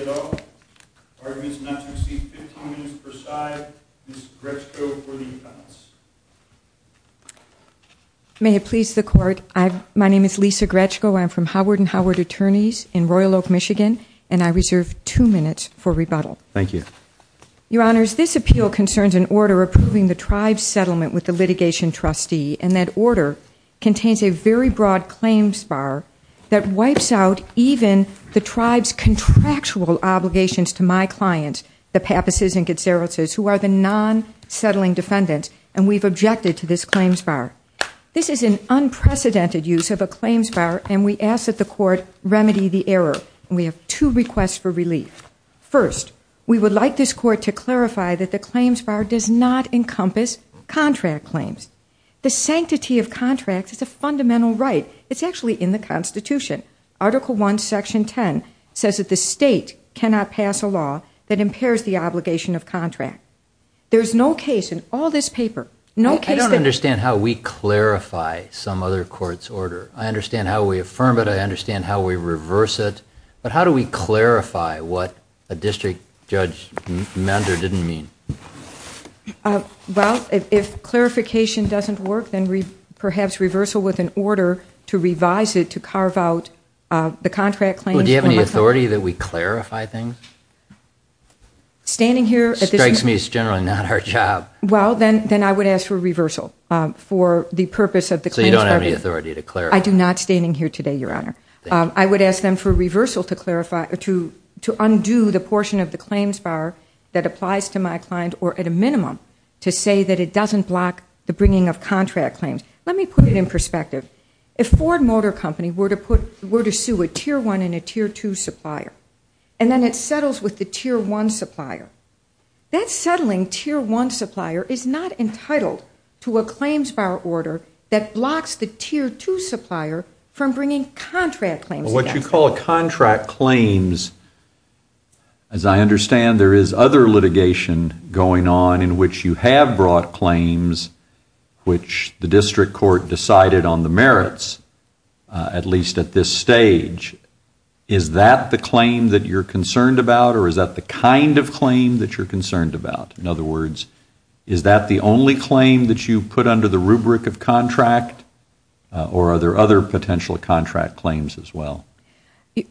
at all. Arguments not to receive 15 minutes per side. Ms. Gretchko for the appellants. May it please the court. My name is Lisa Gretchko. I'm from Howard & Howard Attorneys in Royal Oak, Michigan and I reserve two minutes for rebuttal. Thank you. Your Honors, this appeal concerns an order approving the tribe's settlement with the litigation trustee and that order contains a very broad claims bar that wipes out even the tribe's contractual obligations to my client, the Papas' and Gutzeris' who are the non-settling defendants and we've objected to this claims bar. This is an unprecedented use of a claims bar and we ask that the court remedy the error. We have two requests for this court to clarify that the claims bar does not encompass contract claims. The sanctity of contracts is a fundamental right. It's actually in the Constitution. Article 1, Section 10 says that the state cannot pass a law that impairs the obligation of contract. There's no case in all this paper, no case that... I don't understand how we clarify some other court's order. I understand how we affirm it. I understand how we reverse it. But how do we clarify what a district judge mender didn't mean? Well, if clarification doesn't work, then perhaps reversal with an order to revise it to carve out the contract claims from authority. Do you have any authority that we clarify things? Standing here... Strikes me it's generally not our job. Well, then I would ask for reversal for the purpose of the claims bar. So you don't have any authority to clarify? I do not standing here today, Your Honor. I would ask them for reversal to undo the portion of the claims bar that applies to my client, or at a minimum, to say that it doesn't block the bringing of contract claims. Let me put it in perspective. If Ford Motor Company were to sue a Tier 1 and a Tier 2 supplier, and then it settles with the Tier 1 supplier, that settling Tier 1 supplier is not entitled to a claims bar order that blocks the Tier 2 supplier from bringing contract claims. What you call contract claims, as I understand, there is other litigation going on in which you have brought claims which the district court decided on the merits, at least at this stage. Is that the claim that you're concerned about, or is that the kind of claim that you're concerned about? In other words, is that the only claim that you put under the rubric of contract, or are there other potential contract claims as well?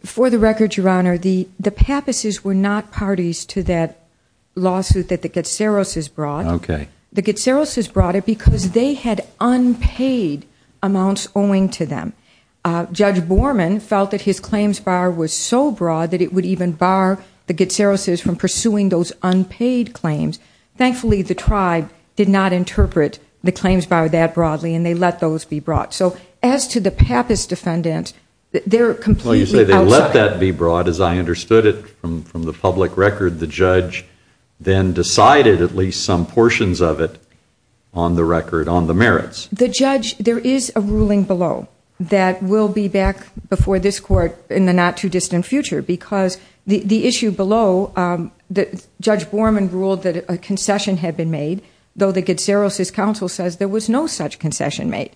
For the record, Your Honor, the Pappases were not parties to that lawsuit that the Getzeros has brought. The Getzeros has brought it because they had unpaid amounts owing to them. Judge Borman felt that his claims bar was so broad that it would even bar the Getzeros from pursuing those unpaid claims. Thankfully, the tribe did not interpret the claims bar that broadly, and they let those be brought. So as to the Pappas defendant, they're completely outside Well, you say they let that be brought, as I understood it from the public record. The judge then decided at least some portions of it on the record on the merits. The judge, there is a ruling below that will be back before this court in the not too distant future because the issue below, Judge Borman ruled that a concession had been made, though the Getzeros' counsel says there was no such concession made.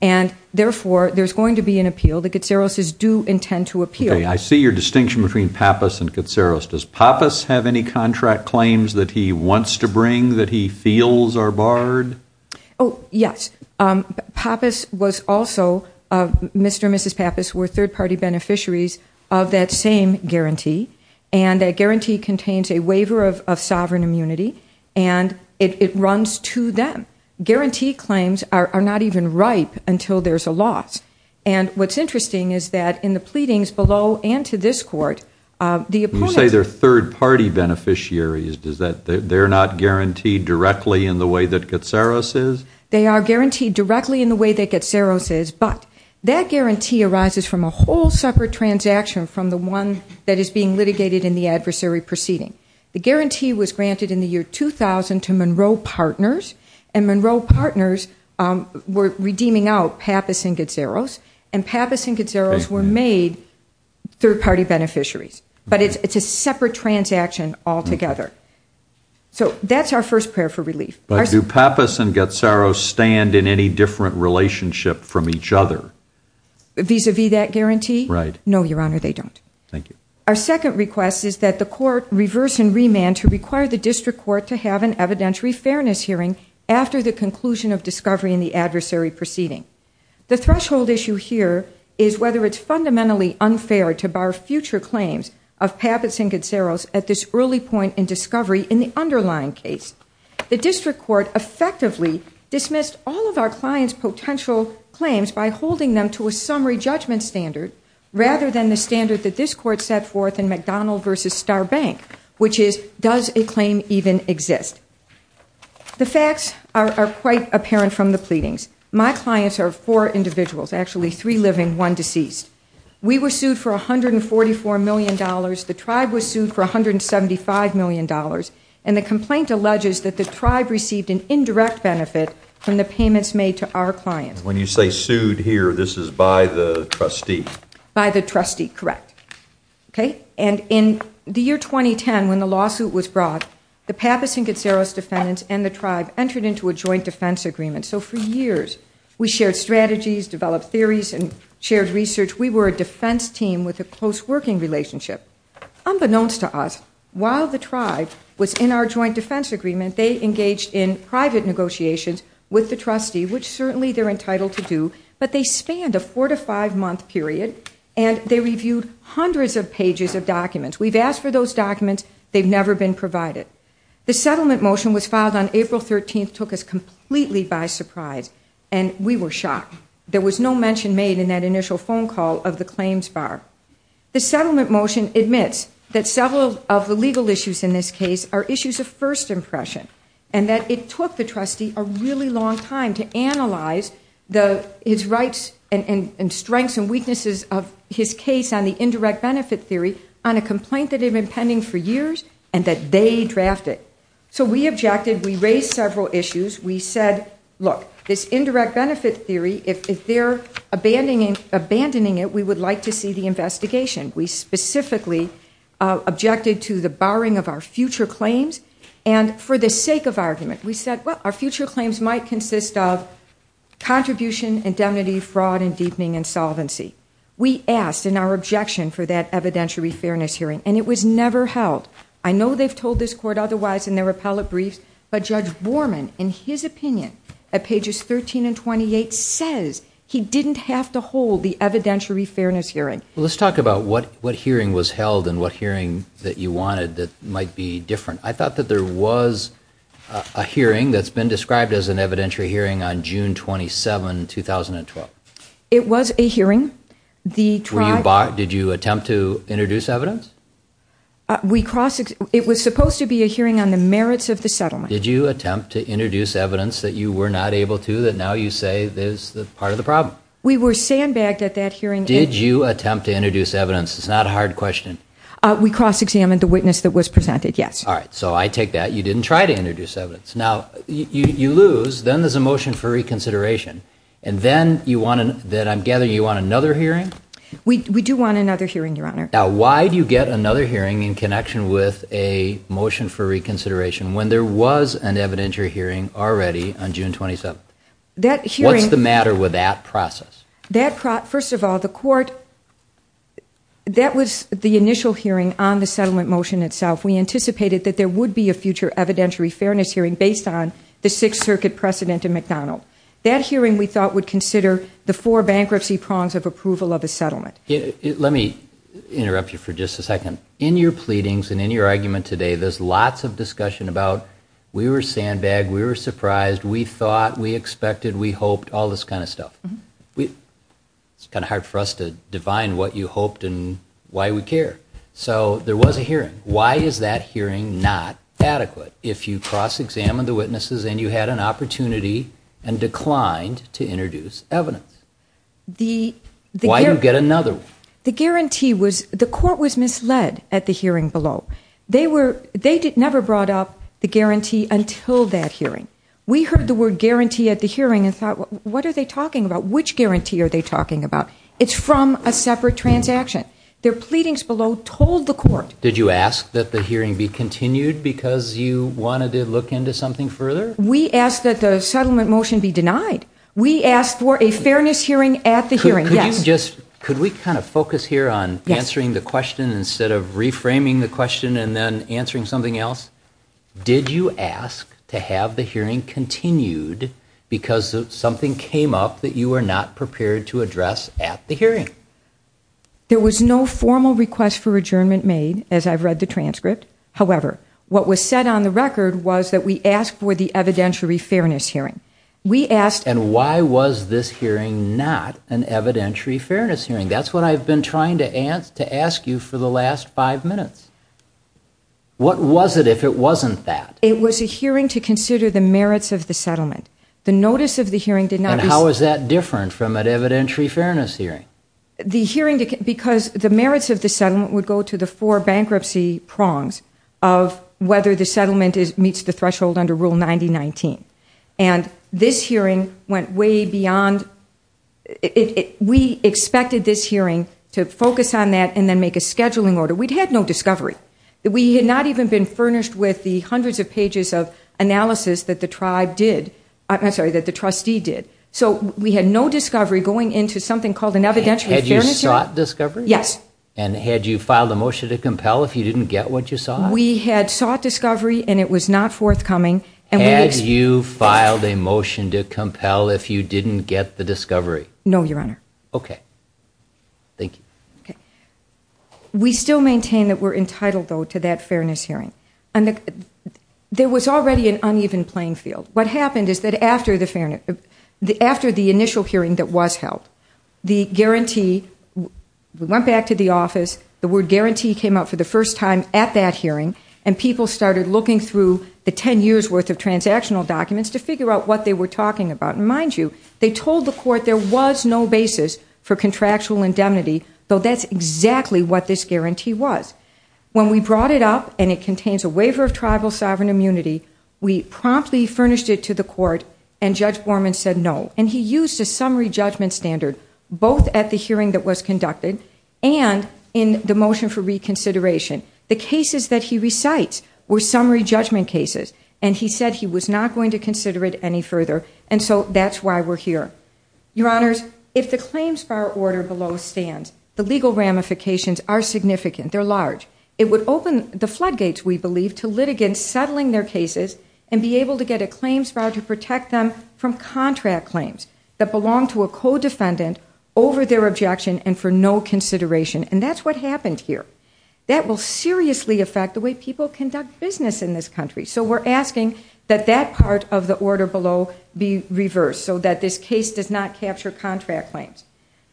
And therefore, there's going to be an appeal. The Getzeros' do intend to appeal. I see your distinction between Pappas and Getzeros. Does Pappas have any contract claims that he wants to bring that he feels are barred? Oh, yes. Pappas was also, Mr. and Mrs. Pappas were third-party beneficiaries of that same guarantee, and that guarantee contains a waiver of sovereign immunity, and it runs to them. Guarantee claims are not even ripe until there's a loss. And what's interesting is that in the pleadings below and to this court, the opponent You say they're third-party beneficiaries. They're not guaranteed directly in the way that Getzeros is? They are guaranteed directly in the way that Getzeros is, but that guarantee arises from a whole separate transaction from the one that is being litigated in the adversary proceeding. The guarantee was granted in the year 2000 to Monroe Partners, and Monroe Partners were redeeming out Pappas and Getzeros, and Pappas and Getzeros were made third-party beneficiaries. But it's a separate transaction altogether. So that's our first prayer for relief. But do Pappas and Getzeros stand in any different relationship from each other? Vis-a-vis that guarantee? Right. No, Your Honor, they don't. Thank you. Our second request is that the court reverse and remand to require the district court to have an evidentiary fairness hearing after the conclusion of discovery in the adversary proceeding. The threshold issue here is whether it's fundamentally unfair to bar future claims of Pappas and Getzeros at this early point in discovery in the underlying case. The district court effectively dismissed all of our client's potential claims by holding them to a summary judgment standard rather than the standard that this court set forth in McDonald v. Star Bank, which is, does a claim even exist? The facts are quite apparent from the pleadings. My clients are four individuals, actually three living, one deceased. We were sued for $144 million. The tribe was sued for $175 million. The complaint alleges that the tribe received an indirect benefit from the payments made to our clients. When you say sued here, this is by the trustee? By the trustee, correct. In the year 2010, when the lawsuit was brought, the Pappas and Getzeros defendants and the tribe entered into a joint defense agreement. For years, we shared strategies, developed theories, and shared research. We were a defense team with a close working relationship. Unbeknownst to us, while the tribe was in our joint defense agreement, they engaged in private negotiations with the trustee, which certainly they're entitled to do, but they spanned a four-to-five-month period, and they reviewed hundreds of pages of documents. We've asked for those documents. They've never been provided. The settlement motion was filed on April 13th, took us completely by surprise, and we were shocked. There was no mention made in that initial phone call of the claims bar. The settlement motion admits that several of the legal issues in this case are issues of first impression and that it took the trustee a really long time to analyze his rights and strengths and weaknesses of his case on the indirect benefit theory on a complaint that had been pending for years and that they drafted. So we objected. We raised several issues. We said, look, this indirect benefit theory, if they're abandoning it, we would like to see the investigation. We specifically objected to the barring of our future claims, and for the sake of argument, we said, well, our future claims might consist of contribution, indemnity, fraud, and deepening insolvency. We asked in our objection for that evidentiary fairness hearing, and it was never held. I know they've held this court otherwise in their appellate briefs, but Judge Borman, in his opinion, at pages 13 and 28, says he didn't have to hold the evidentiary fairness hearing. Well, let's talk about what hearing was held and what hearing that you wanted that might be different. I thought that there was a hearing that's been described as an evidentiary hearing on June 27, 2012. It was a hearing. Were you barred? Did you attempt to introduce evidence? It was supposed to be a hearing on the merits of the settlement. Did you attempt to introduce evidence that you were not able to, that now you say is part of the problem? We were sandbagged at that hearing. Did you attempt to introduce evidence? It's not a hard question. We cross-examined the witness that was presented, yes. All right, so I take that. You didn't try to introduce evidence. Now, you lose. Then there's a motion for reconsideration, and then I'm gathering you want another hearing? We do want another hearing, Your Honor. Now, why do you get another hearing in connection with a motion for reconsideration, when there was an evidentiary hearing already on June 27? That hearing... What's the matter with that process? First of all, the court, that was the initial hearing on the settlement motion itself. We anticipated that there would be a future evidentiary fairness hearing based on the Sixth Circuit precedent in McDonald. That hearing, we thought, would consider the four bankruptcy prongs of approval of a settlement. Let me interrupt you for just a second. In your pleadings and in your argument today, there's lots of discussion about, we were sandbagged, we were surprised, we thought, we expected, we hoped, all this kind of stuff. It's kind of hard for us to define what you hoped and why we care. So, there was a hearing. Why is that hearing not adequate, if you cross-examined the witnesses and you had an opportunity and declined to introduce evidence? Why do you get another one? The guarantee was, the court was misled at the hearing below. They never brought up the guarantee until that hearing. We heard the word guarantee at the hearing and thought, what are they talking about? Which guarantee are they talking about? It's from a separate transaction. Their pleadings below told the court... Did you ask that the hearing be continued because you wanted to look into something further? We asked that the settlement motion be denied. We asked for a fairness hearing at the hearing. Could we kind of focus here on answering the question instead of reframing the question and then answering something else? Did you ask to have the hearing continued because something came up that you were not prepared to address at the hearing? There was no formal request for adjournment made, as I've read the transcript. However, what was said on the record was that we asked for the evidentiary fairness hearing. And why was this hearing not an evidentiary fairness hearing? That's what I've been trying to ask you for the last five minutes. What was it if it wasn't that? It was a hearing to consider the merits of the settlement. The notice of the hearing did not... How is that different from an evidentiary fairness hearing? The hearing... Because the merits of the settlement would go to the four bankruptcy prongs of whether the settlement meets the threshold under Rule 9019. And this hearing went way beyond... We expected this hearing to focus on that and then make a scheduling order. We'd had no discovery. We had not even been furnished with the hundreds of pages of analysis that the tribe did... I'm sorry, that the trustee did. So we had no discovery going into something called an evidentiary fairness hearing? Had you sought discovery? Yes. And had you filed a motion to compel if you didn't get what you sought? We had sought discovery and it was not forthcoming. Had you filed a motion to compel if you didn't get the discovery? No, Your Honor. Okay. Thank you. We still maintain that we're entitled, though, to that fairness hearing. There was already an uneven playing field. What happened is that after the initial hearing that was held, the guarantee... We went back to the office, the word guarantee came up for the first time at that hearing, and people started looking through the 10 years' worth of transactional documents to figure out what they were talking about. And mind you, they told the court there was no basis for contractual indemnity, though that's exactly what this guarantee was. When we brought it up and it contains a waiver of tribal sovereign immunity, we promptly furnished it to the court and Judge Borman said no. And he used a summary judgment standard both at the hearing that was conducted and in the motion for reconsideration. The cases that he recites were summary judgment cases, and he said he was not going to consider it any further. And so that's why we're here. Your Honors, if the claims bar order below stands, the legal ramifications are significant. They're large. It would open the floodgates, we believe, to litigants settling their cases and be able to get a claims bar to protect them from contract claims that belong to a co-defendant over their objection and for no consideration. And that's what happened here. That will seriously affect the way people conduct business in this country. So we're asking that that part of the order below be reversed so that this case does not capture contract claims.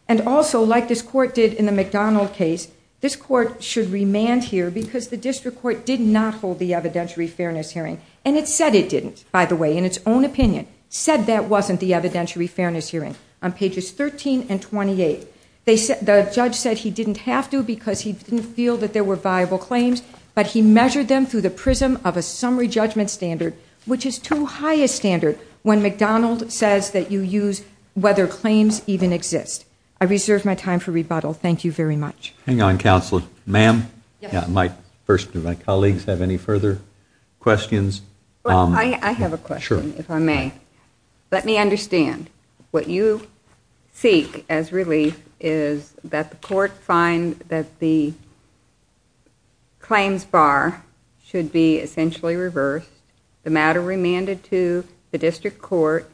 And also, like this Court did in the McDonald case, this Court should remand here because the district court did not hold the evidentiary fairness hearing. And it said it didn't, by the way, in its own opinion. It said that wasn't the evidentiary fairness hearing on pages 13 and 28. The judge said he didn't have to because he didn't feel that there were viable claims, but he measured them through the prism of a summary judgment standard, which is too high a standard when McDonald says that you use whether claims even exist. I reserve my time for rebuttal. Thank you very much. Hang on, Counselor. Ma'am, first, do my colleagues have any further questions? I have a question, if I may. Let me understand. What you seek as relief is that the Court find that the claims bar should be essentially reversed. The matter remanded to the district court.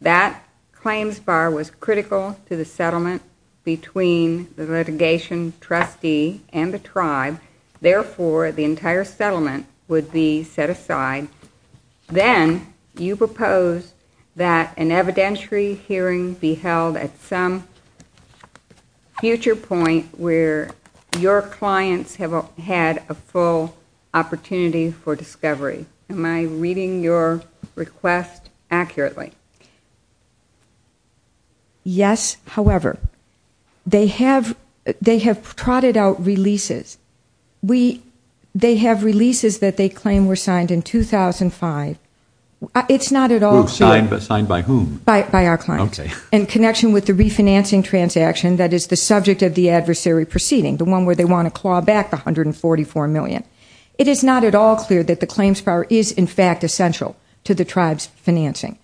That claims bar was critical to the settlement between the litigation trustee and the tribe. Therefore, the entire settlement would be set aside. Then, you propose that an evidentiary hearing be held at some future point where your clients have had a full opportunity for discovery. Am I reading your request accurately? Yes, however, they have trotted out releases. They have releases that they claim were signed in 2005. It's not at all clear. Signed by whom? By our clients. Okay. In connection with the refinancing transaction that is the subject of the adversary proceeding, the one where they want to claw back the $144 million. It is not at all clear that the claims bar is, in fact, essential to the tribe's financing.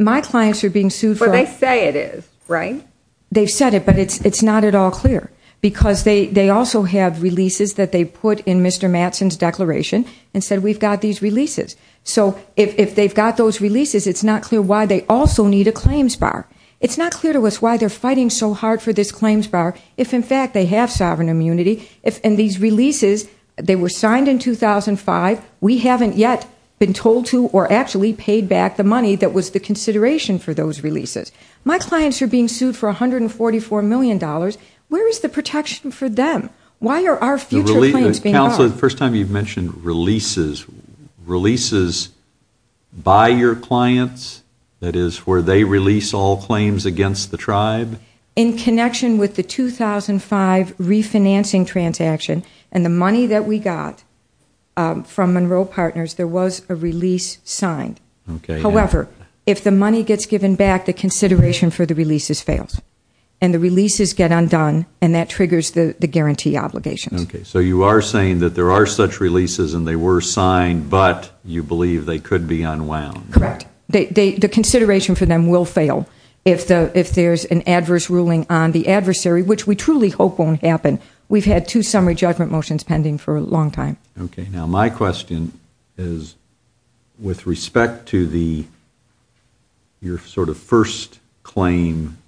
My clients are being sued for Well, they say it is, right? They've said it, but it's not at all clear because they also have releases that they put in Mr. Mattson's declaration and said, we've got these releases. So if they've got those releases, it's not clear why they also need a claims bar. It's not clear to us why they're fighting so hard for this claims bar if, in fact, they have sovereign immunity. These releases, they were signed in 2005. We haven't yet been told to or actually paid back the money that was the consideration for those releases. My clients are being sued for $144 million. Where is the protection for them? Why are our future claims being barred? First time you've mentioned releases. Releases by your clients, that is, where they release all claims against the tribe? In connection with the 2005 refinancing transaction and the money that we got from Monroe Partners, there was a release signed. However, if the money gets given back, the consideration for the releases fails and the releases get undone and that triggers the guarantee obligations. So you are saying that there are such releases and they were signed, but you believe they could be unwound. Correct. The consideration for them will fail if there's an adverse ruling on the adversary, which we truly hope won't happen. We've had two summary judgment motions pending for a long time. My question is, with respect to your first claim,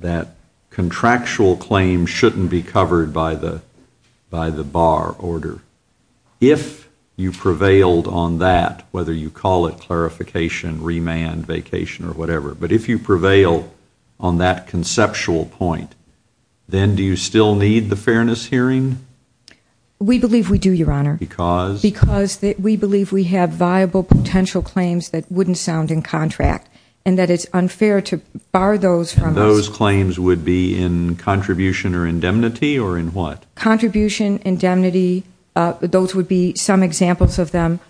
that contractual claim shouldn't be by the bar order. If you prevailed on that, whether you call it clarification, remand, vacation or whatever, but if you prevail on that conceptual point, then do you still need the fairness hearing? We believe we do, Your Honor. Because? Because we believe we have viable potential claims that wouldn't sound in contract and that it's unfair to bar those from us. Those claims would be in contribution or indemnity or in what? Contribution, indemnity, those would be some examples of them,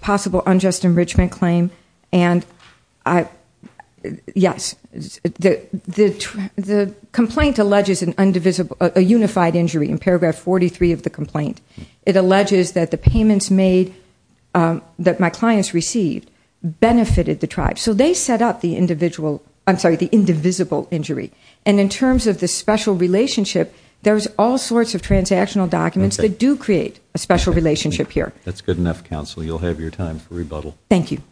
possible unjust enrichment claim, and yes, the complaint alleges a unified injury in paragraph 43 of the complaint. It alleges that the payments made that my clients received benefited the tribe. So they set up the individual, I'm sorry, the indivisible injury. And in terms of the special relationship, there's all sorts of transactional documents that do create a special relationship here. That's good enough, Counsel. You'll have your time for rebuttal. Thank you.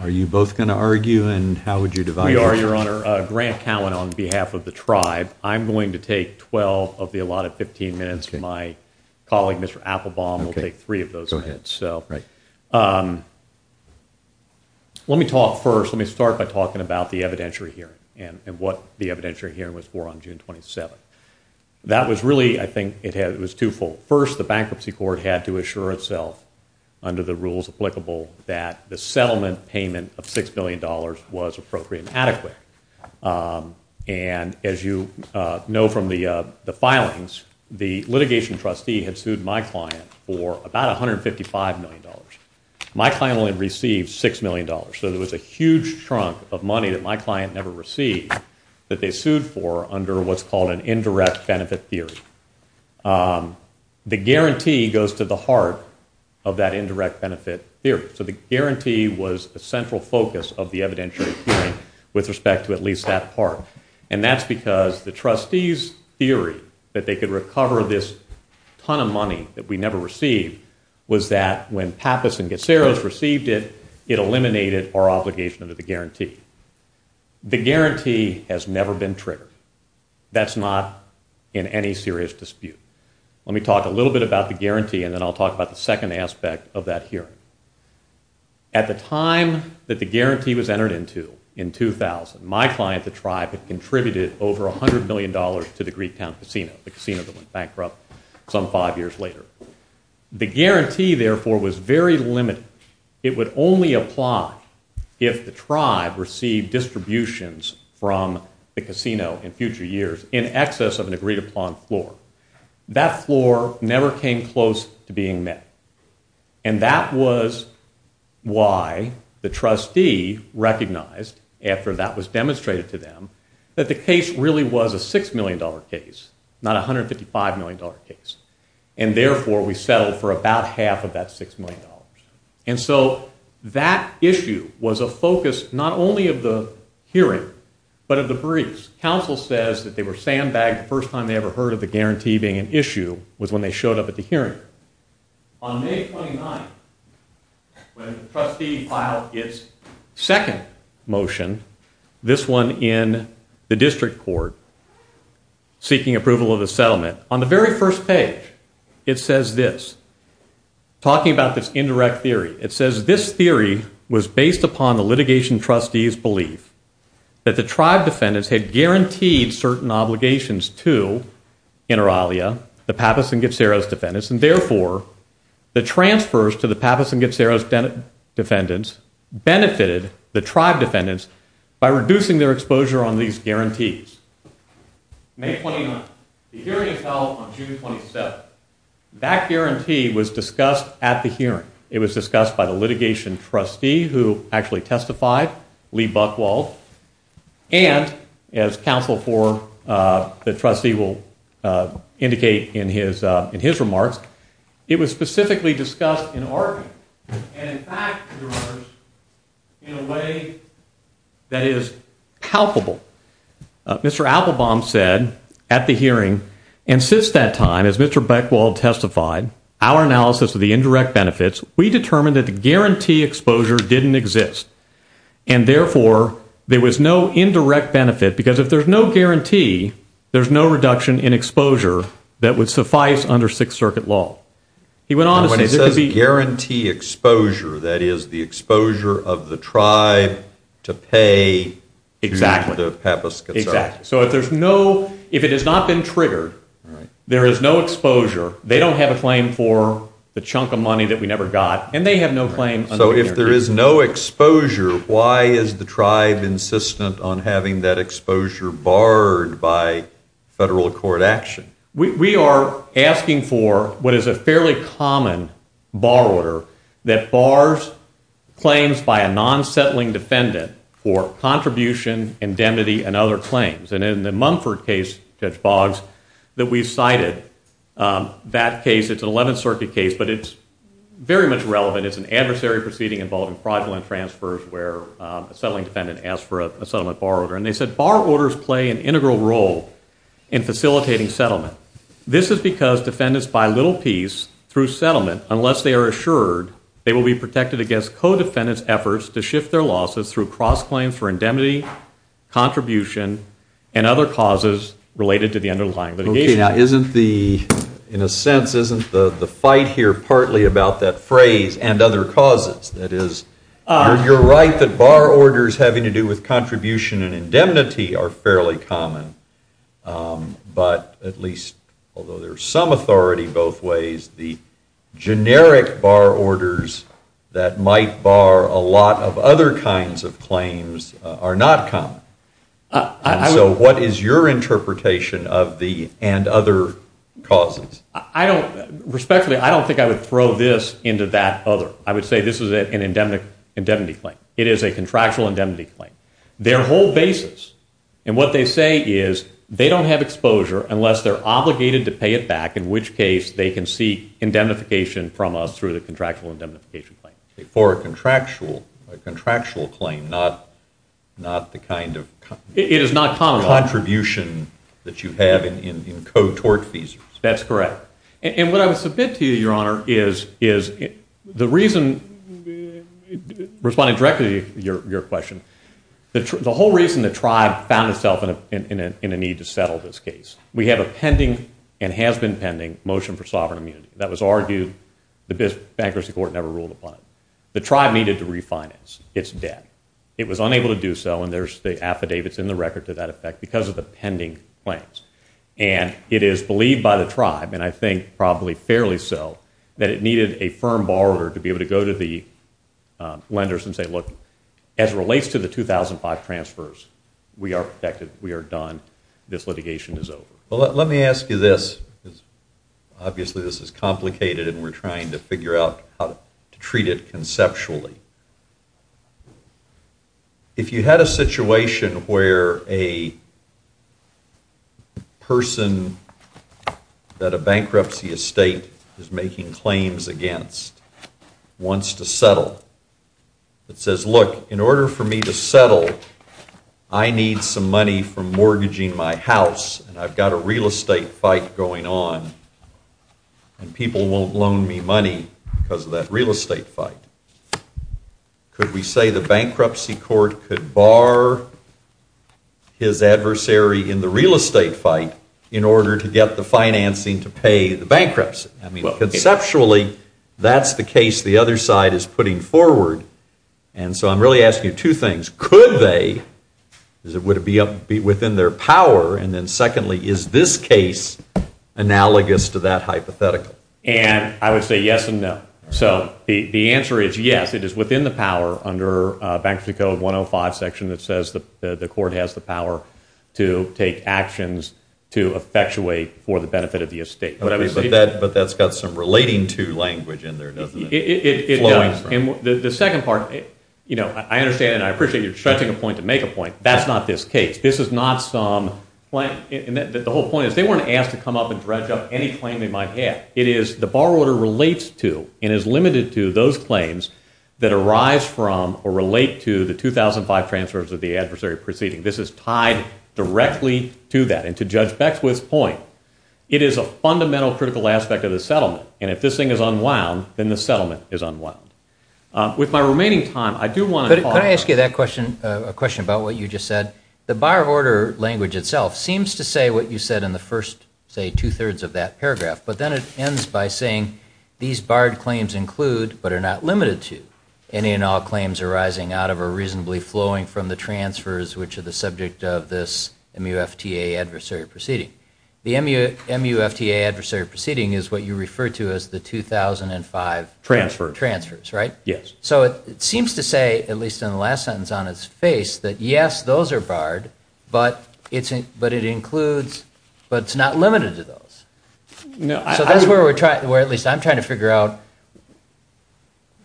Are you both going to argue and how would you divide? We are, Your Honor. Grant Cowan on behalf of the tribe. I'm going to take 12 of the allotted 15 minutes. My colleague, Mr. Applebaum, will take three of those minutes. Let me talk first, let me start by talking about the evidentiary hearing and what the evidentiary hearing was for on June 27. That was really, I think, it was twofold. First, the bankruptcy court had to assure itself under the rules applicable that the settlement payment of $6 billion was appropriate and adequate. And as you know from the filings, the litigation trustee had sued my client for about $155 million. My client only received $6 million. So there was a huge trunk of money that my client never received that they sued for under what's called an indirect benefit theory. The guarantee goes to the heart of that indirect benefit theory. So the guarantee was a central focus of the evidentiary hearing with respect to at least that part. And that's because the trustee's theory that they could recover this ton of money that we never received was that when Pappas and Gaceros received it, it eliminated our obligation under the guarantee. The guarantee has never been triggered. That's not in any serious dispute. Let me talk a little bit about the guarantee and then I'll talk about the second aspect of that hearing. At the time that the guarantee was entered into, in 2000, my client, the tribe, had contributed over $100 million to the Greek town casino, the casino that went bankrupt some five years later. The guarantee therefore was very limited. It would only apply if the tribe received distributions from the casino in future years in excess of an agreed upon floor. That floor never came close to being met. And that was why the trustee recognized after that was demonstrated to them that the case really was a $6 million case, not a $155 million case. And therefore we settled for about half of that $6 million. And so that issue was a focus not only of the hearing, but of the briefs. Council says that they were sandbagged the first time they ever heard of the guarantee being an issue was when they showed up at the hearing. On the very first page it says this, talking about this indirect theory, it says this theory was based upon the litigation trustee's belief that the tribe defendants had guaranteed certain obligations to Inter Alia, the Pappas and Getzeros defendants, and therefore the transfers to the Pappas and Getzeros defendants benefited the tribe defendants by reducing their exposure on these guarantees. May 29th, the hearing is held on June 27th. That guarantee was discussed at the hearing. It was discussed by the litigation trustee who actually testified, Lee Buchwald, and as Council for the trustee will indicate in his remarks, it was specifically discussed in argument. And in fact, in a way that is palpable. Mr. Applebaum said at the hearing, and since that time, as Mr. Buchwald testified, our analysis of the indirect benefits, we determined that the guarantee exposure didn't exist. And therefore there was no indirect benefit because if there's no guarantee, there's no reduction in exposure that would suffice under Sixth Circuit law. He went on to say that there could be... When he says guarantee exposure, that is the exposure of the tribe to pay to the Pappas and Getzeros. Exactly. So if there's no, if it has not been triggered, there is no exposure, they don't have a claim for the chunk of money that we never got, and they have no claim. So if there is no exposure, why is the tribe insistent on having that exposure barred by federal court action? We are asking for what is a fairly common bar order that bars claims by a non-settling defendant for contribution, indemnity, and other claims. And in the Mumford case, Judge Boggs, that we cited, that case, it's an Eleventh Circuit case, but it's very much relevant. It's an adversary proceeding involving fraudulent transfers where a settling defendant asked for a settlement bar order. And they said bar orders play an integral role in facilitating settlement. This is because defendants buy little piece through settlement unless they are assured they will be protected against co-defendant's efforts to shift their losses through cross-claims for indemnity, contribution, and other causes related to the underlying litigation. Okay. Now isn't the, in a sense, isn't the and other causes, that is, you're right that bar orders having to do with contribution and indemnity are fairly common, but at least, although there's some authority both ways, the generic bar orders that might bar a lot of other kinds of claims are not common. And so what is your interpretation of the and other causes? I don't, respectfully, I don't think I would throw this into that other. I would say this is an indemnity claim. It is a contractual indemnity claim. Their whole basis, and what they say is, they don't have exposure unless they're obligated to pay it back, in which case they can seek indemnification from us through the contractual indemnification claim. For a contractual claim, not the kind of contribution that you have in co-tort fees. That's correct. And what I would submit to you, Your Honor, is the reason, responding directly to your question, the whole reason the tribe found itself in a need to settle this case. We have a pending, and has been pending, motion for sovereign immunity that was argued, the bankruptcy court never ruled upon it. The tribe needed to refinance its debt. It was unable to do so, and there's the affidavits in the record to that effect because of the pending claims. And it is believed by the tribe, and I think probably fairly so, that it needed a firm borrower to be able to go to the lenders and say, look, as it relates to the 2005 transfers, we are protected, we are done, this litigation is over. Let me ask you this, obviously this is complicated and we're trying to figure out how to treat it conceptually. If you had a situation where a person that a bankruptcy estate is making claims against wants to settle, that says, look, in order for me to settle, I need some money for mortgaging my house, and I've got a real estate fight going on, and people won't loan me money because of that real estate fight. Could we say the bankruptcy court could bar his adversary in the real estate fight in order to get the financing to pay the bankruptcy? I mean, conceptually, that's the case the other side is putting forward, and so I'm really asking you two things. Could they, because it would be within their power, and secondly, is this case analogous to that hypothetical? I would say yes and no. So, the answer is yes, it is within the power under Bankruptcy Code 105 section that says the court has the power to take actions to effectuate for the benefit of the estate. But that's got some relating to language in there, doesn't it? The second part, I understand and I appreciate you're stretching a point to make a point, but that's not this case. This is not some, the whole point is they weren't asked to come up and dredge up any claim they might have. It is the borrower relates to and is limited to those claims that arise from or relate to the 2005 transfers of the adversary proceeding. This is tied directly to that, and to Judge Beckwith's point, it is a fundamental critical aspect of the settlement, and if this thing is unwound, then the settlement is unwound. With my remaining time, I do want to talk- The bar of order language itself seems to say what you said in the first, say, two-thirds of that paragraph, but then it ends by saying these barred claims include, but are not limited to, any and all claims arising out of or reasonably flowing from the transfers which are the subject of this MUFTA adversary proceeding. The MUFTA adversary proceeding is what you refer to as the 2005 transfers, right? Yes. So it seems to say, at least in the last sentence on its face, that yes, those are barred, but it includes, but it's not limited to those. No, I- So that's where we're trying, where at least I'm trying to figure out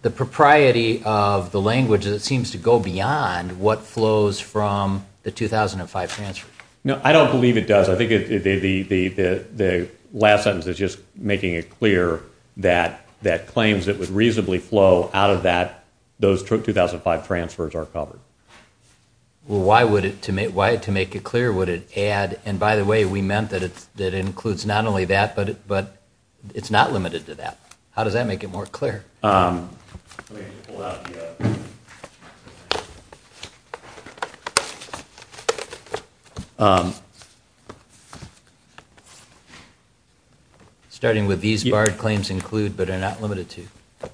the propriety of the language that seems to go beyond what flows from the 2005 transfer. No, I don't believe it does. I think the last sentence is just making it clear that claims that would reasonably flow out of that, those 2005 transfers are covered. Why would it, to make it clear, would it add, and by the way, we meant that it includes not only that, but it's not limited to that. How does that make it more clear? Let me just pull out the- Starting with these barred claims include, but are not limited to, at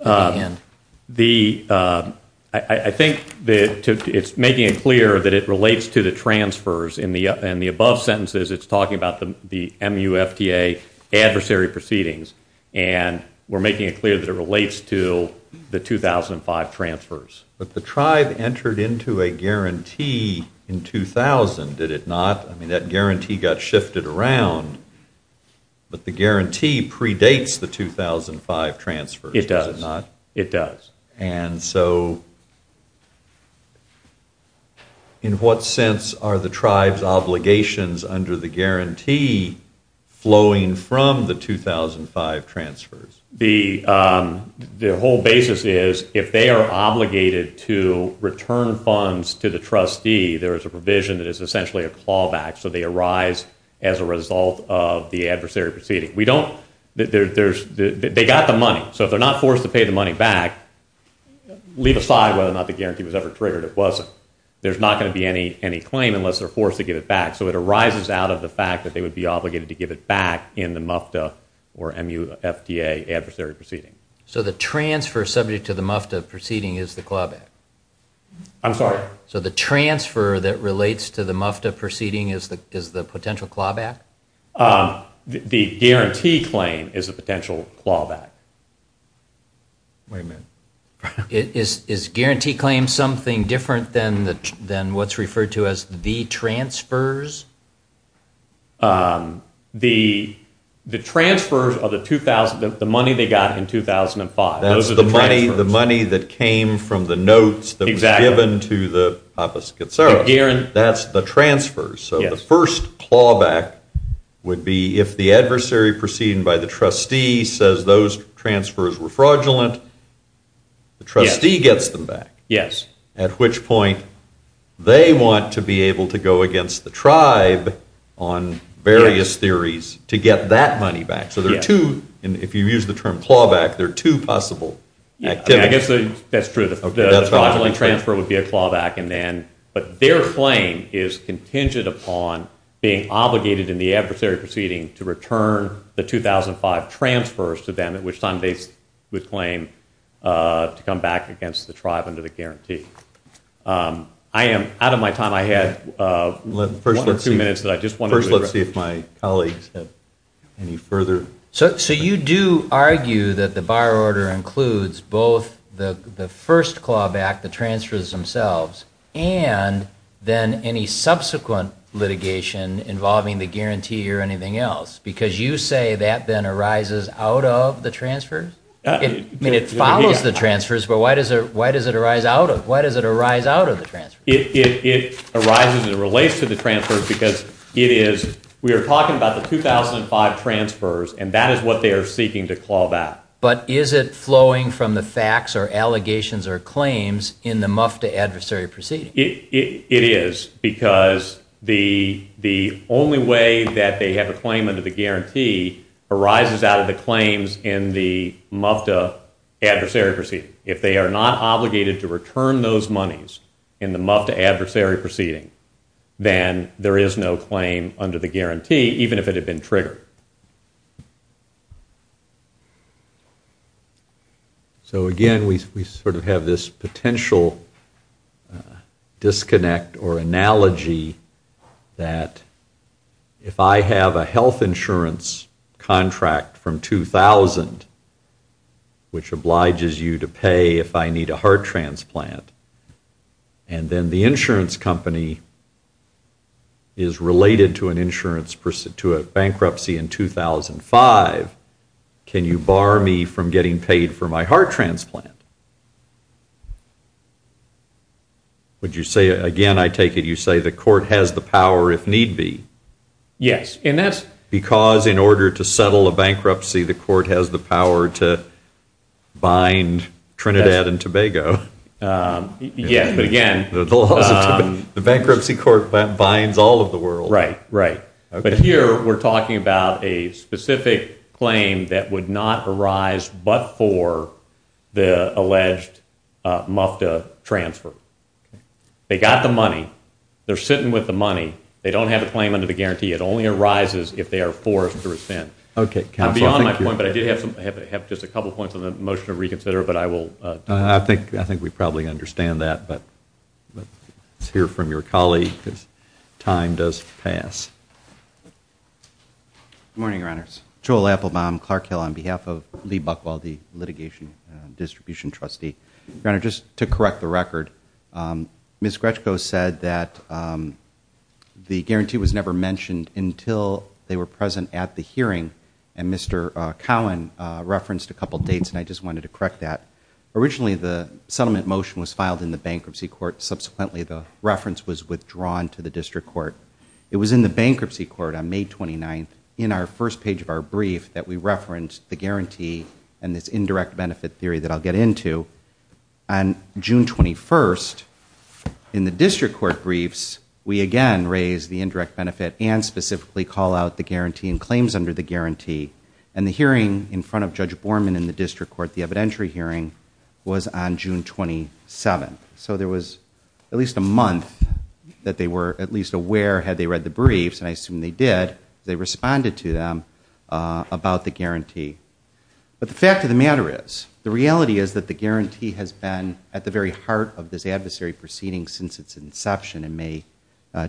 the end. I think that it's making it clear that it relates to the transfers, in the above sentences it's talking about the MUFTA adversary proceedings, and we're making it clear that it relates to the 2005 transfers. But the tribe entered into a guarantee in 2000, did it not? I mean, that guarantee got shifted around, but the guarantee predates the 2005 transfers, does it not? It does. It does. And so, in what sense are the tribe's obligations under the guarantee flowing from the 2005 transfers? The whole basis is, if they are obligated to return funds to the trustee, there is a provision that is essentially a clawback, so they arise as a result of the adversary proceeding. They got the money, so if they're not forced to pay the money back, leave aside whether or not the guarantee was ever triggered, if it wasn't, there's not going to be any claim unless they're forced to give it back, so it arises out of the fact that they would be obligated to give it back in the MUFTA or M-U-F-T-A adversary proceeding. So the transfer subject to the MUFTA proceeding is the clawback? I'm sorry? So the transfer that relates to the MUFTA proceeding is the potential clawback? The guarantee claim is a potential clawback. Wait a minute. Is guarantee claim something different than what's referred to as the transfers? The transfers are the money they got in 2005. Those are the transfers. That's the money that came from the notes that was given to the opposite side. That's the transfers. So the first clawback would be if the adversary proceeding by the trustee says those transfers were fraudulent, the trustee gets them back, at which point they want to be able to go against the tribe on various theories to get that money back. So there are two, if you use the term clawback, there are two possible activities. That's true. The fraudulent transfer would be a clawback. But their claim is contingent upon being obligated in the adversary proceeding to return the 2005 transfers to them, at which time they would claim to come back against the tribe under the guarantee. Out of my time, I had one or two minutes that I just wanted to read. First, let's see if my colleagues have any further. So you do argue that the bar order includes both the first clawback, the transfers themselves, and then any subsequent litigation involving the guarantee or anything else, because you say that then arises out of the transfers? I mean, it follows the transfers, but why does it arise out of the transfers? It arises and it relates to the transfers because it is, we are talking about the 2005 transfers, and that is what they are seeking to clawback. But is it flowing from the facts or allegations or claims in the MUFTA adversary proceeding? It is, because the only way that they have a claim under the guarantee arises out of the claims in the MUFTA adversary proceeding. If they are not obligated to return those monies in the MUFTA adversary proceeding, then there is no claim under the guarantee, even if it had been triggered. So again, we sort of have this potential disconnect or analogy that if I have a health insurance contract from 2000, which obliges you to pay if I need a heart transplant, and then the insurance company is related to a bankruptcy in 2005, can you bar me from getting paid for my heart transplant? Would you say, again, I take it you say the court has the power if need be? Yes. Because in order to settle a bankruptcy, the court has the power to bind Trinidad and Tobago. Yes, but again... The bankruptcy court binds all of the world. Right, right. But here we are talking about a specific claim that would not arise but for the alleged MUFTA transfer. They got the money. They are sitting with the money. They don't have a claim under the guarantee. It only arises if they are forced to rescind. I'm beyond my point, but I did have just a couple points on the motion to reconsider, but I will... I think we probably understand that, but let's hear from your colleague because time does pass. Good morning, Your Honors. Joel Applebaum, Clark Hill, on behalf of Lee Buchwald, the litigation distribution trustee. Your Honor, just to correct the record, Ms. Gretchko said that the guarantee was never mentioned until they were present at the hearing, and Mr. Cowan referenced a couple dates, and I just wanted to correct that. Originally, the settlement motion was filed in the bankruptcy court. Subsequently, the reference was withdrawn to the district court. It was in the bankruptcy court on May 29th, in our first page of our brief, that we referenced the guarantee and this indirect benefit theory that I'll get into. On June 21st, in the district court briefs, we again raise the indirect benefit and specifically call out the guarantee and claims under the guarantee, and the hearing in front of Judge Borman in the district court, the evidentiary hearing, was on June 27th. So there was at least a month that they were at least aware, had they read the briefs, and I assume they did. They responded to them about the guarantee. But the fact of the matter is, the reality is that the guarantee has been at the very heart of this adversary proceeding since its inception in May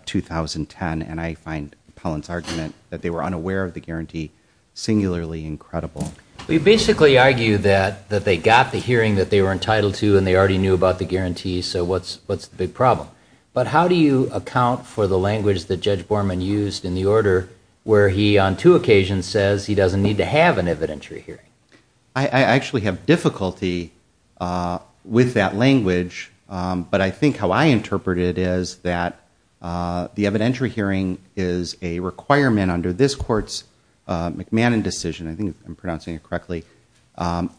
2010, and I find Pellin's argument that they were unaware of the guarantee singularly incredible. We basically argue that they got the hearing that they were entitled to and they already But how do you account for the language that Judge Borman used in the order where he, on two occasions, says he doesn't need to have an evidentiary hearing? I actually have difficulty with that language, but I think how I interpret it is that the evidentiary hearing is a requirement under this court's McMahon decision, I think I'm pronouncing it correctly,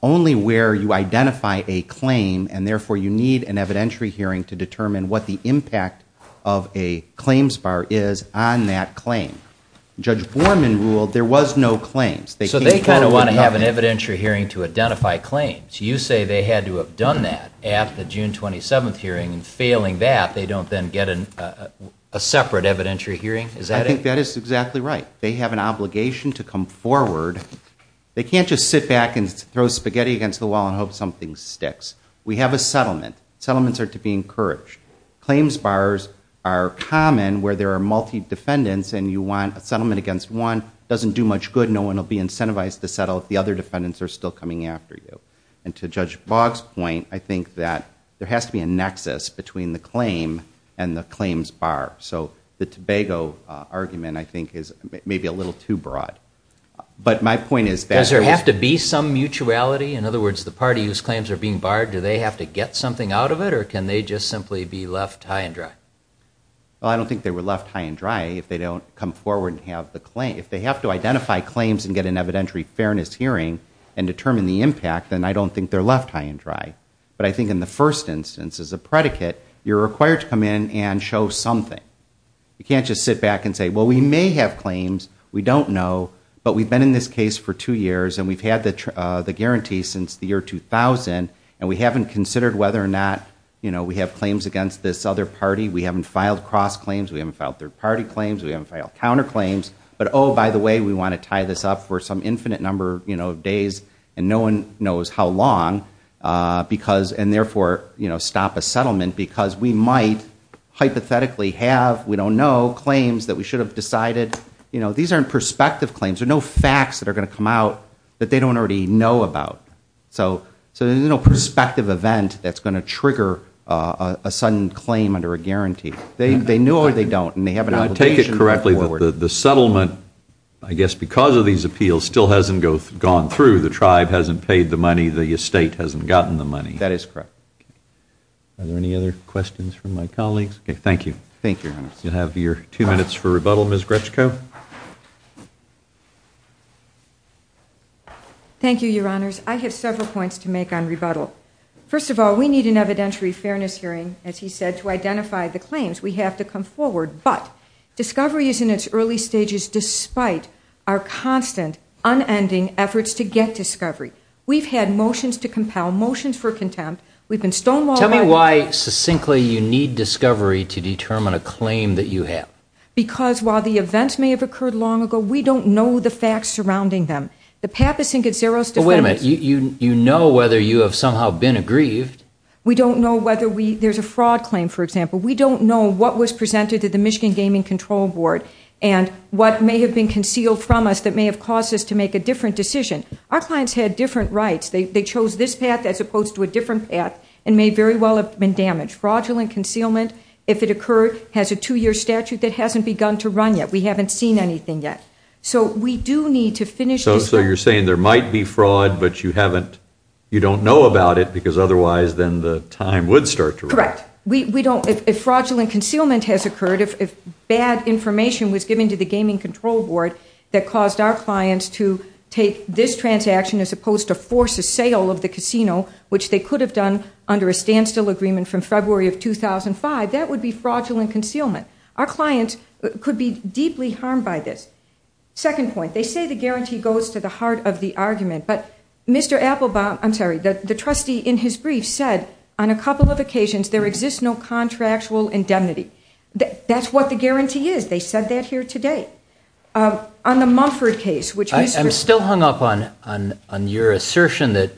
only where you identify a claim and therefore you need an evidentiary hearing to determine what the impact of a claims bar is on that claim. Judge Borman ruled there was no claims. So they kind of want to have an evidentiary hearing to identify claims. You say they had to have done that at the June 27th hearing, and failing that, they don't then get a separate evidentiary hearing? I think that is exactly right. They have an obligation to come forward. They can't just sit back and throw spaghetti against the wall and hope something sticks. We have a settlement. Settlements are to be encouraged. Claims bars are common where there are multi-defendants and you want a settlement against one, doesn't do much good, no one will be incentivized to settle if the other defendants are still coming after you. And to Judge Boggs' point, I think that there has to be a nexus between the claim and the claims bar. So the Tobago argument, I think, is maybe a little too broad. But my point is that- Does there have to be some mutuality? In other words, the party whose claims are being barred, do they have to get something out of it or can they just simply be left high and dry? Well, I don't think they were left high and dry if they don't come forward and have the claim. If they have to identify claims and get an evidentiary fairness hearing and determine the impact, then I don't think they're left high and dry. But I think in the first instance, as a predicate, you're required to come in and show something. You can't just sit back and say, well, we may have claims, we don't know, but we've been in this case for two years and we've had the guarantee since the year 2000 and we haven't considered whether or not we have claims against this other party. We haven't filed cross-claims. We haven't filed third-party claims. We haven't filed counterclaims. But, oh, by the way, we want to tie this up for some infinite number of days and no one knows how long and therefore stop a settlement because we might hypothetically have, we don't know, claims that we should have decided. These aren't prospective claims. There are no facts that are going to come out that they don't already know about. So there's no prospective event that's going to trigger a sudden claim under a guarantee. They know or they don't and they have an obligation to move forward. I take it correctly that the settlement, I guess because of these appeals, still hasn't gone through. The tribe hasn't paid the money. The estate hasn't gotten the money. That is correct. Are there any other questions from my colleagues? Okay, thank you. Thank you, Your Honor. You'll have your two minutes for rebuttal, Ms. Gretschko. Thank you, Your Honors. I have several points to make on rebuttal. First of all, we need an evidentiary fairness hearing, as he said, to identify the claims. We have to come forward. But discovery is in its early stages despite our constant, unending efforts to get discovery. We've had motions to compel, motions for contempt. We've been stonewalled. Tell me why succinctly you need discovery to determine a claim that you have. Because while the events may have occurred long ago, we don't know the facts surrounding them. The Pappas and Gazzeros defense— Wait a minute. You know whether you have somehow been aggrieved. We don't know whether we—there's a fraud claim, for example. We don't know what was presented to the Michigan Gaming Control Board and what may have been concealed from us that may have caused us to make a different decision. Our clients had different rights. They chose this path as opposed to a different path and may very well have been damaged. Fraudulent concealment, if it occurred, has a two-year statute that hasn't begun to run yet. We haven't seen anything yet. So we do need to finish this— So you're saying there might be fraud, but you don't know about it because otherwise then the time would start to run. Correct. If fraudulent concealment has occurred, if bad information was given to the Gaming Control Board that caused our clients to take this transaction as opposed to force a sale of the casino, which they could have done under a standstill agreement from February of 2005, that would be fraudulent concealment. Our clients could be deeply harmed by this. Second point, they say the guarantee goes to the heart of the argument, but Mr. Applebaum— I'm sorry, the trustee in his brief said on a couple of occasions there exists no contractual indemnity. That's what the guarantee is. They said that here today. On the Mumford case, which Mr.— And let's assume that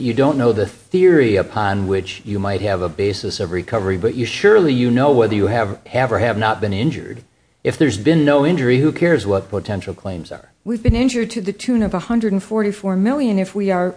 you don't know the theory upon which you might have a basis of recovery, but surely you know whether you have or have not been injured. If there's been no injury, who cares what potential claims are? We've been injured to the tune of $144 million if we are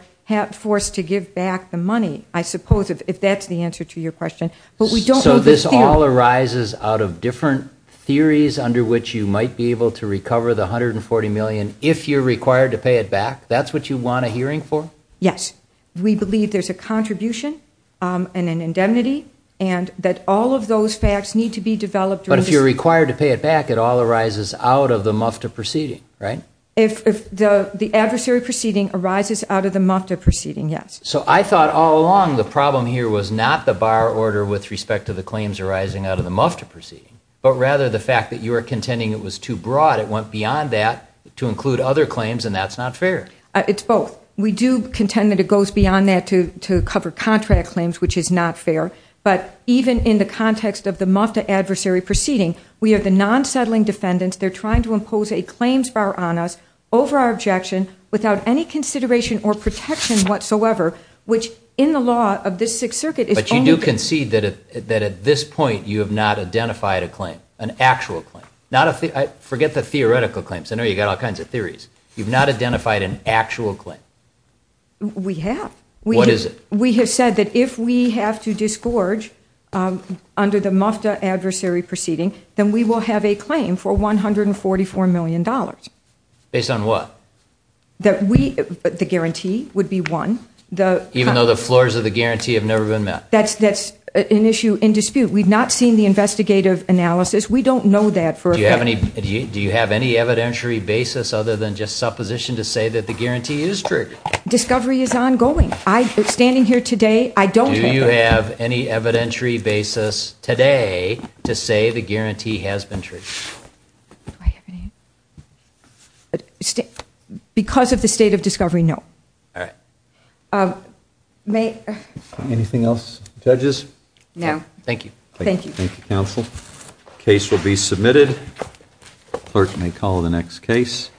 forced to give back the money, I suppose, if that's the answer to your question. So this all arises out of different theories under which you might be able to recover the $140 million if you're required to pay it back? That's what you want a hearing for? Yes. We believe there's a contribution and an indemnity and that all of those facts need to be developed— But if you're required to pay it back, it all arises out of the MUFTA proceeding, right? If the adversary proceeding arises out of the MUFTA proceeding, yes. So I thought all along the problem here was not the bar order with respect to the claims arising out of the MUFTA proceeding, but rather the fact that you were contending it was too broad. It went beyond that to include other claims, and that's not fair. It's both. We do contend that it goes beyond that to cover contract claims, which is not fair. But even in the context of the MUFTA adversary proceeding, we have the non-settling defendants. They're trying to impose a claims bar on us over our objection without any consideration or protection whatsoever, which in the law of this Sixth Circuit is only— But you do concede that at this point you have not identified a claim, an actual claim. Forget the theoretical claims. I know you've got all kinds of theories. You've not identified an actual claim. We have. What is it? We have said that if we have to disgorge under the MUFTA adversary proceeding, then we will have a claim for $144 million. Based on what? The guarantee would be one. Even though the floors of the guarantee have never been met? That's an issue in dispute. We've not seen the investigative analysis. We don't know that for a fact. Do you have any evidentiary basis other than just supposition to say that the guarantee is true? Discovery is ongoing. Standing here today, I don't have that. Do you have any evidentiary basis today to say the guarantee has been true? Do I have any? Because of the state of discovery, no. All right. Anything else, judges? No. Thank you. Thank you. Thank you, counsel. Case will be submitted. Clerk may call the next case.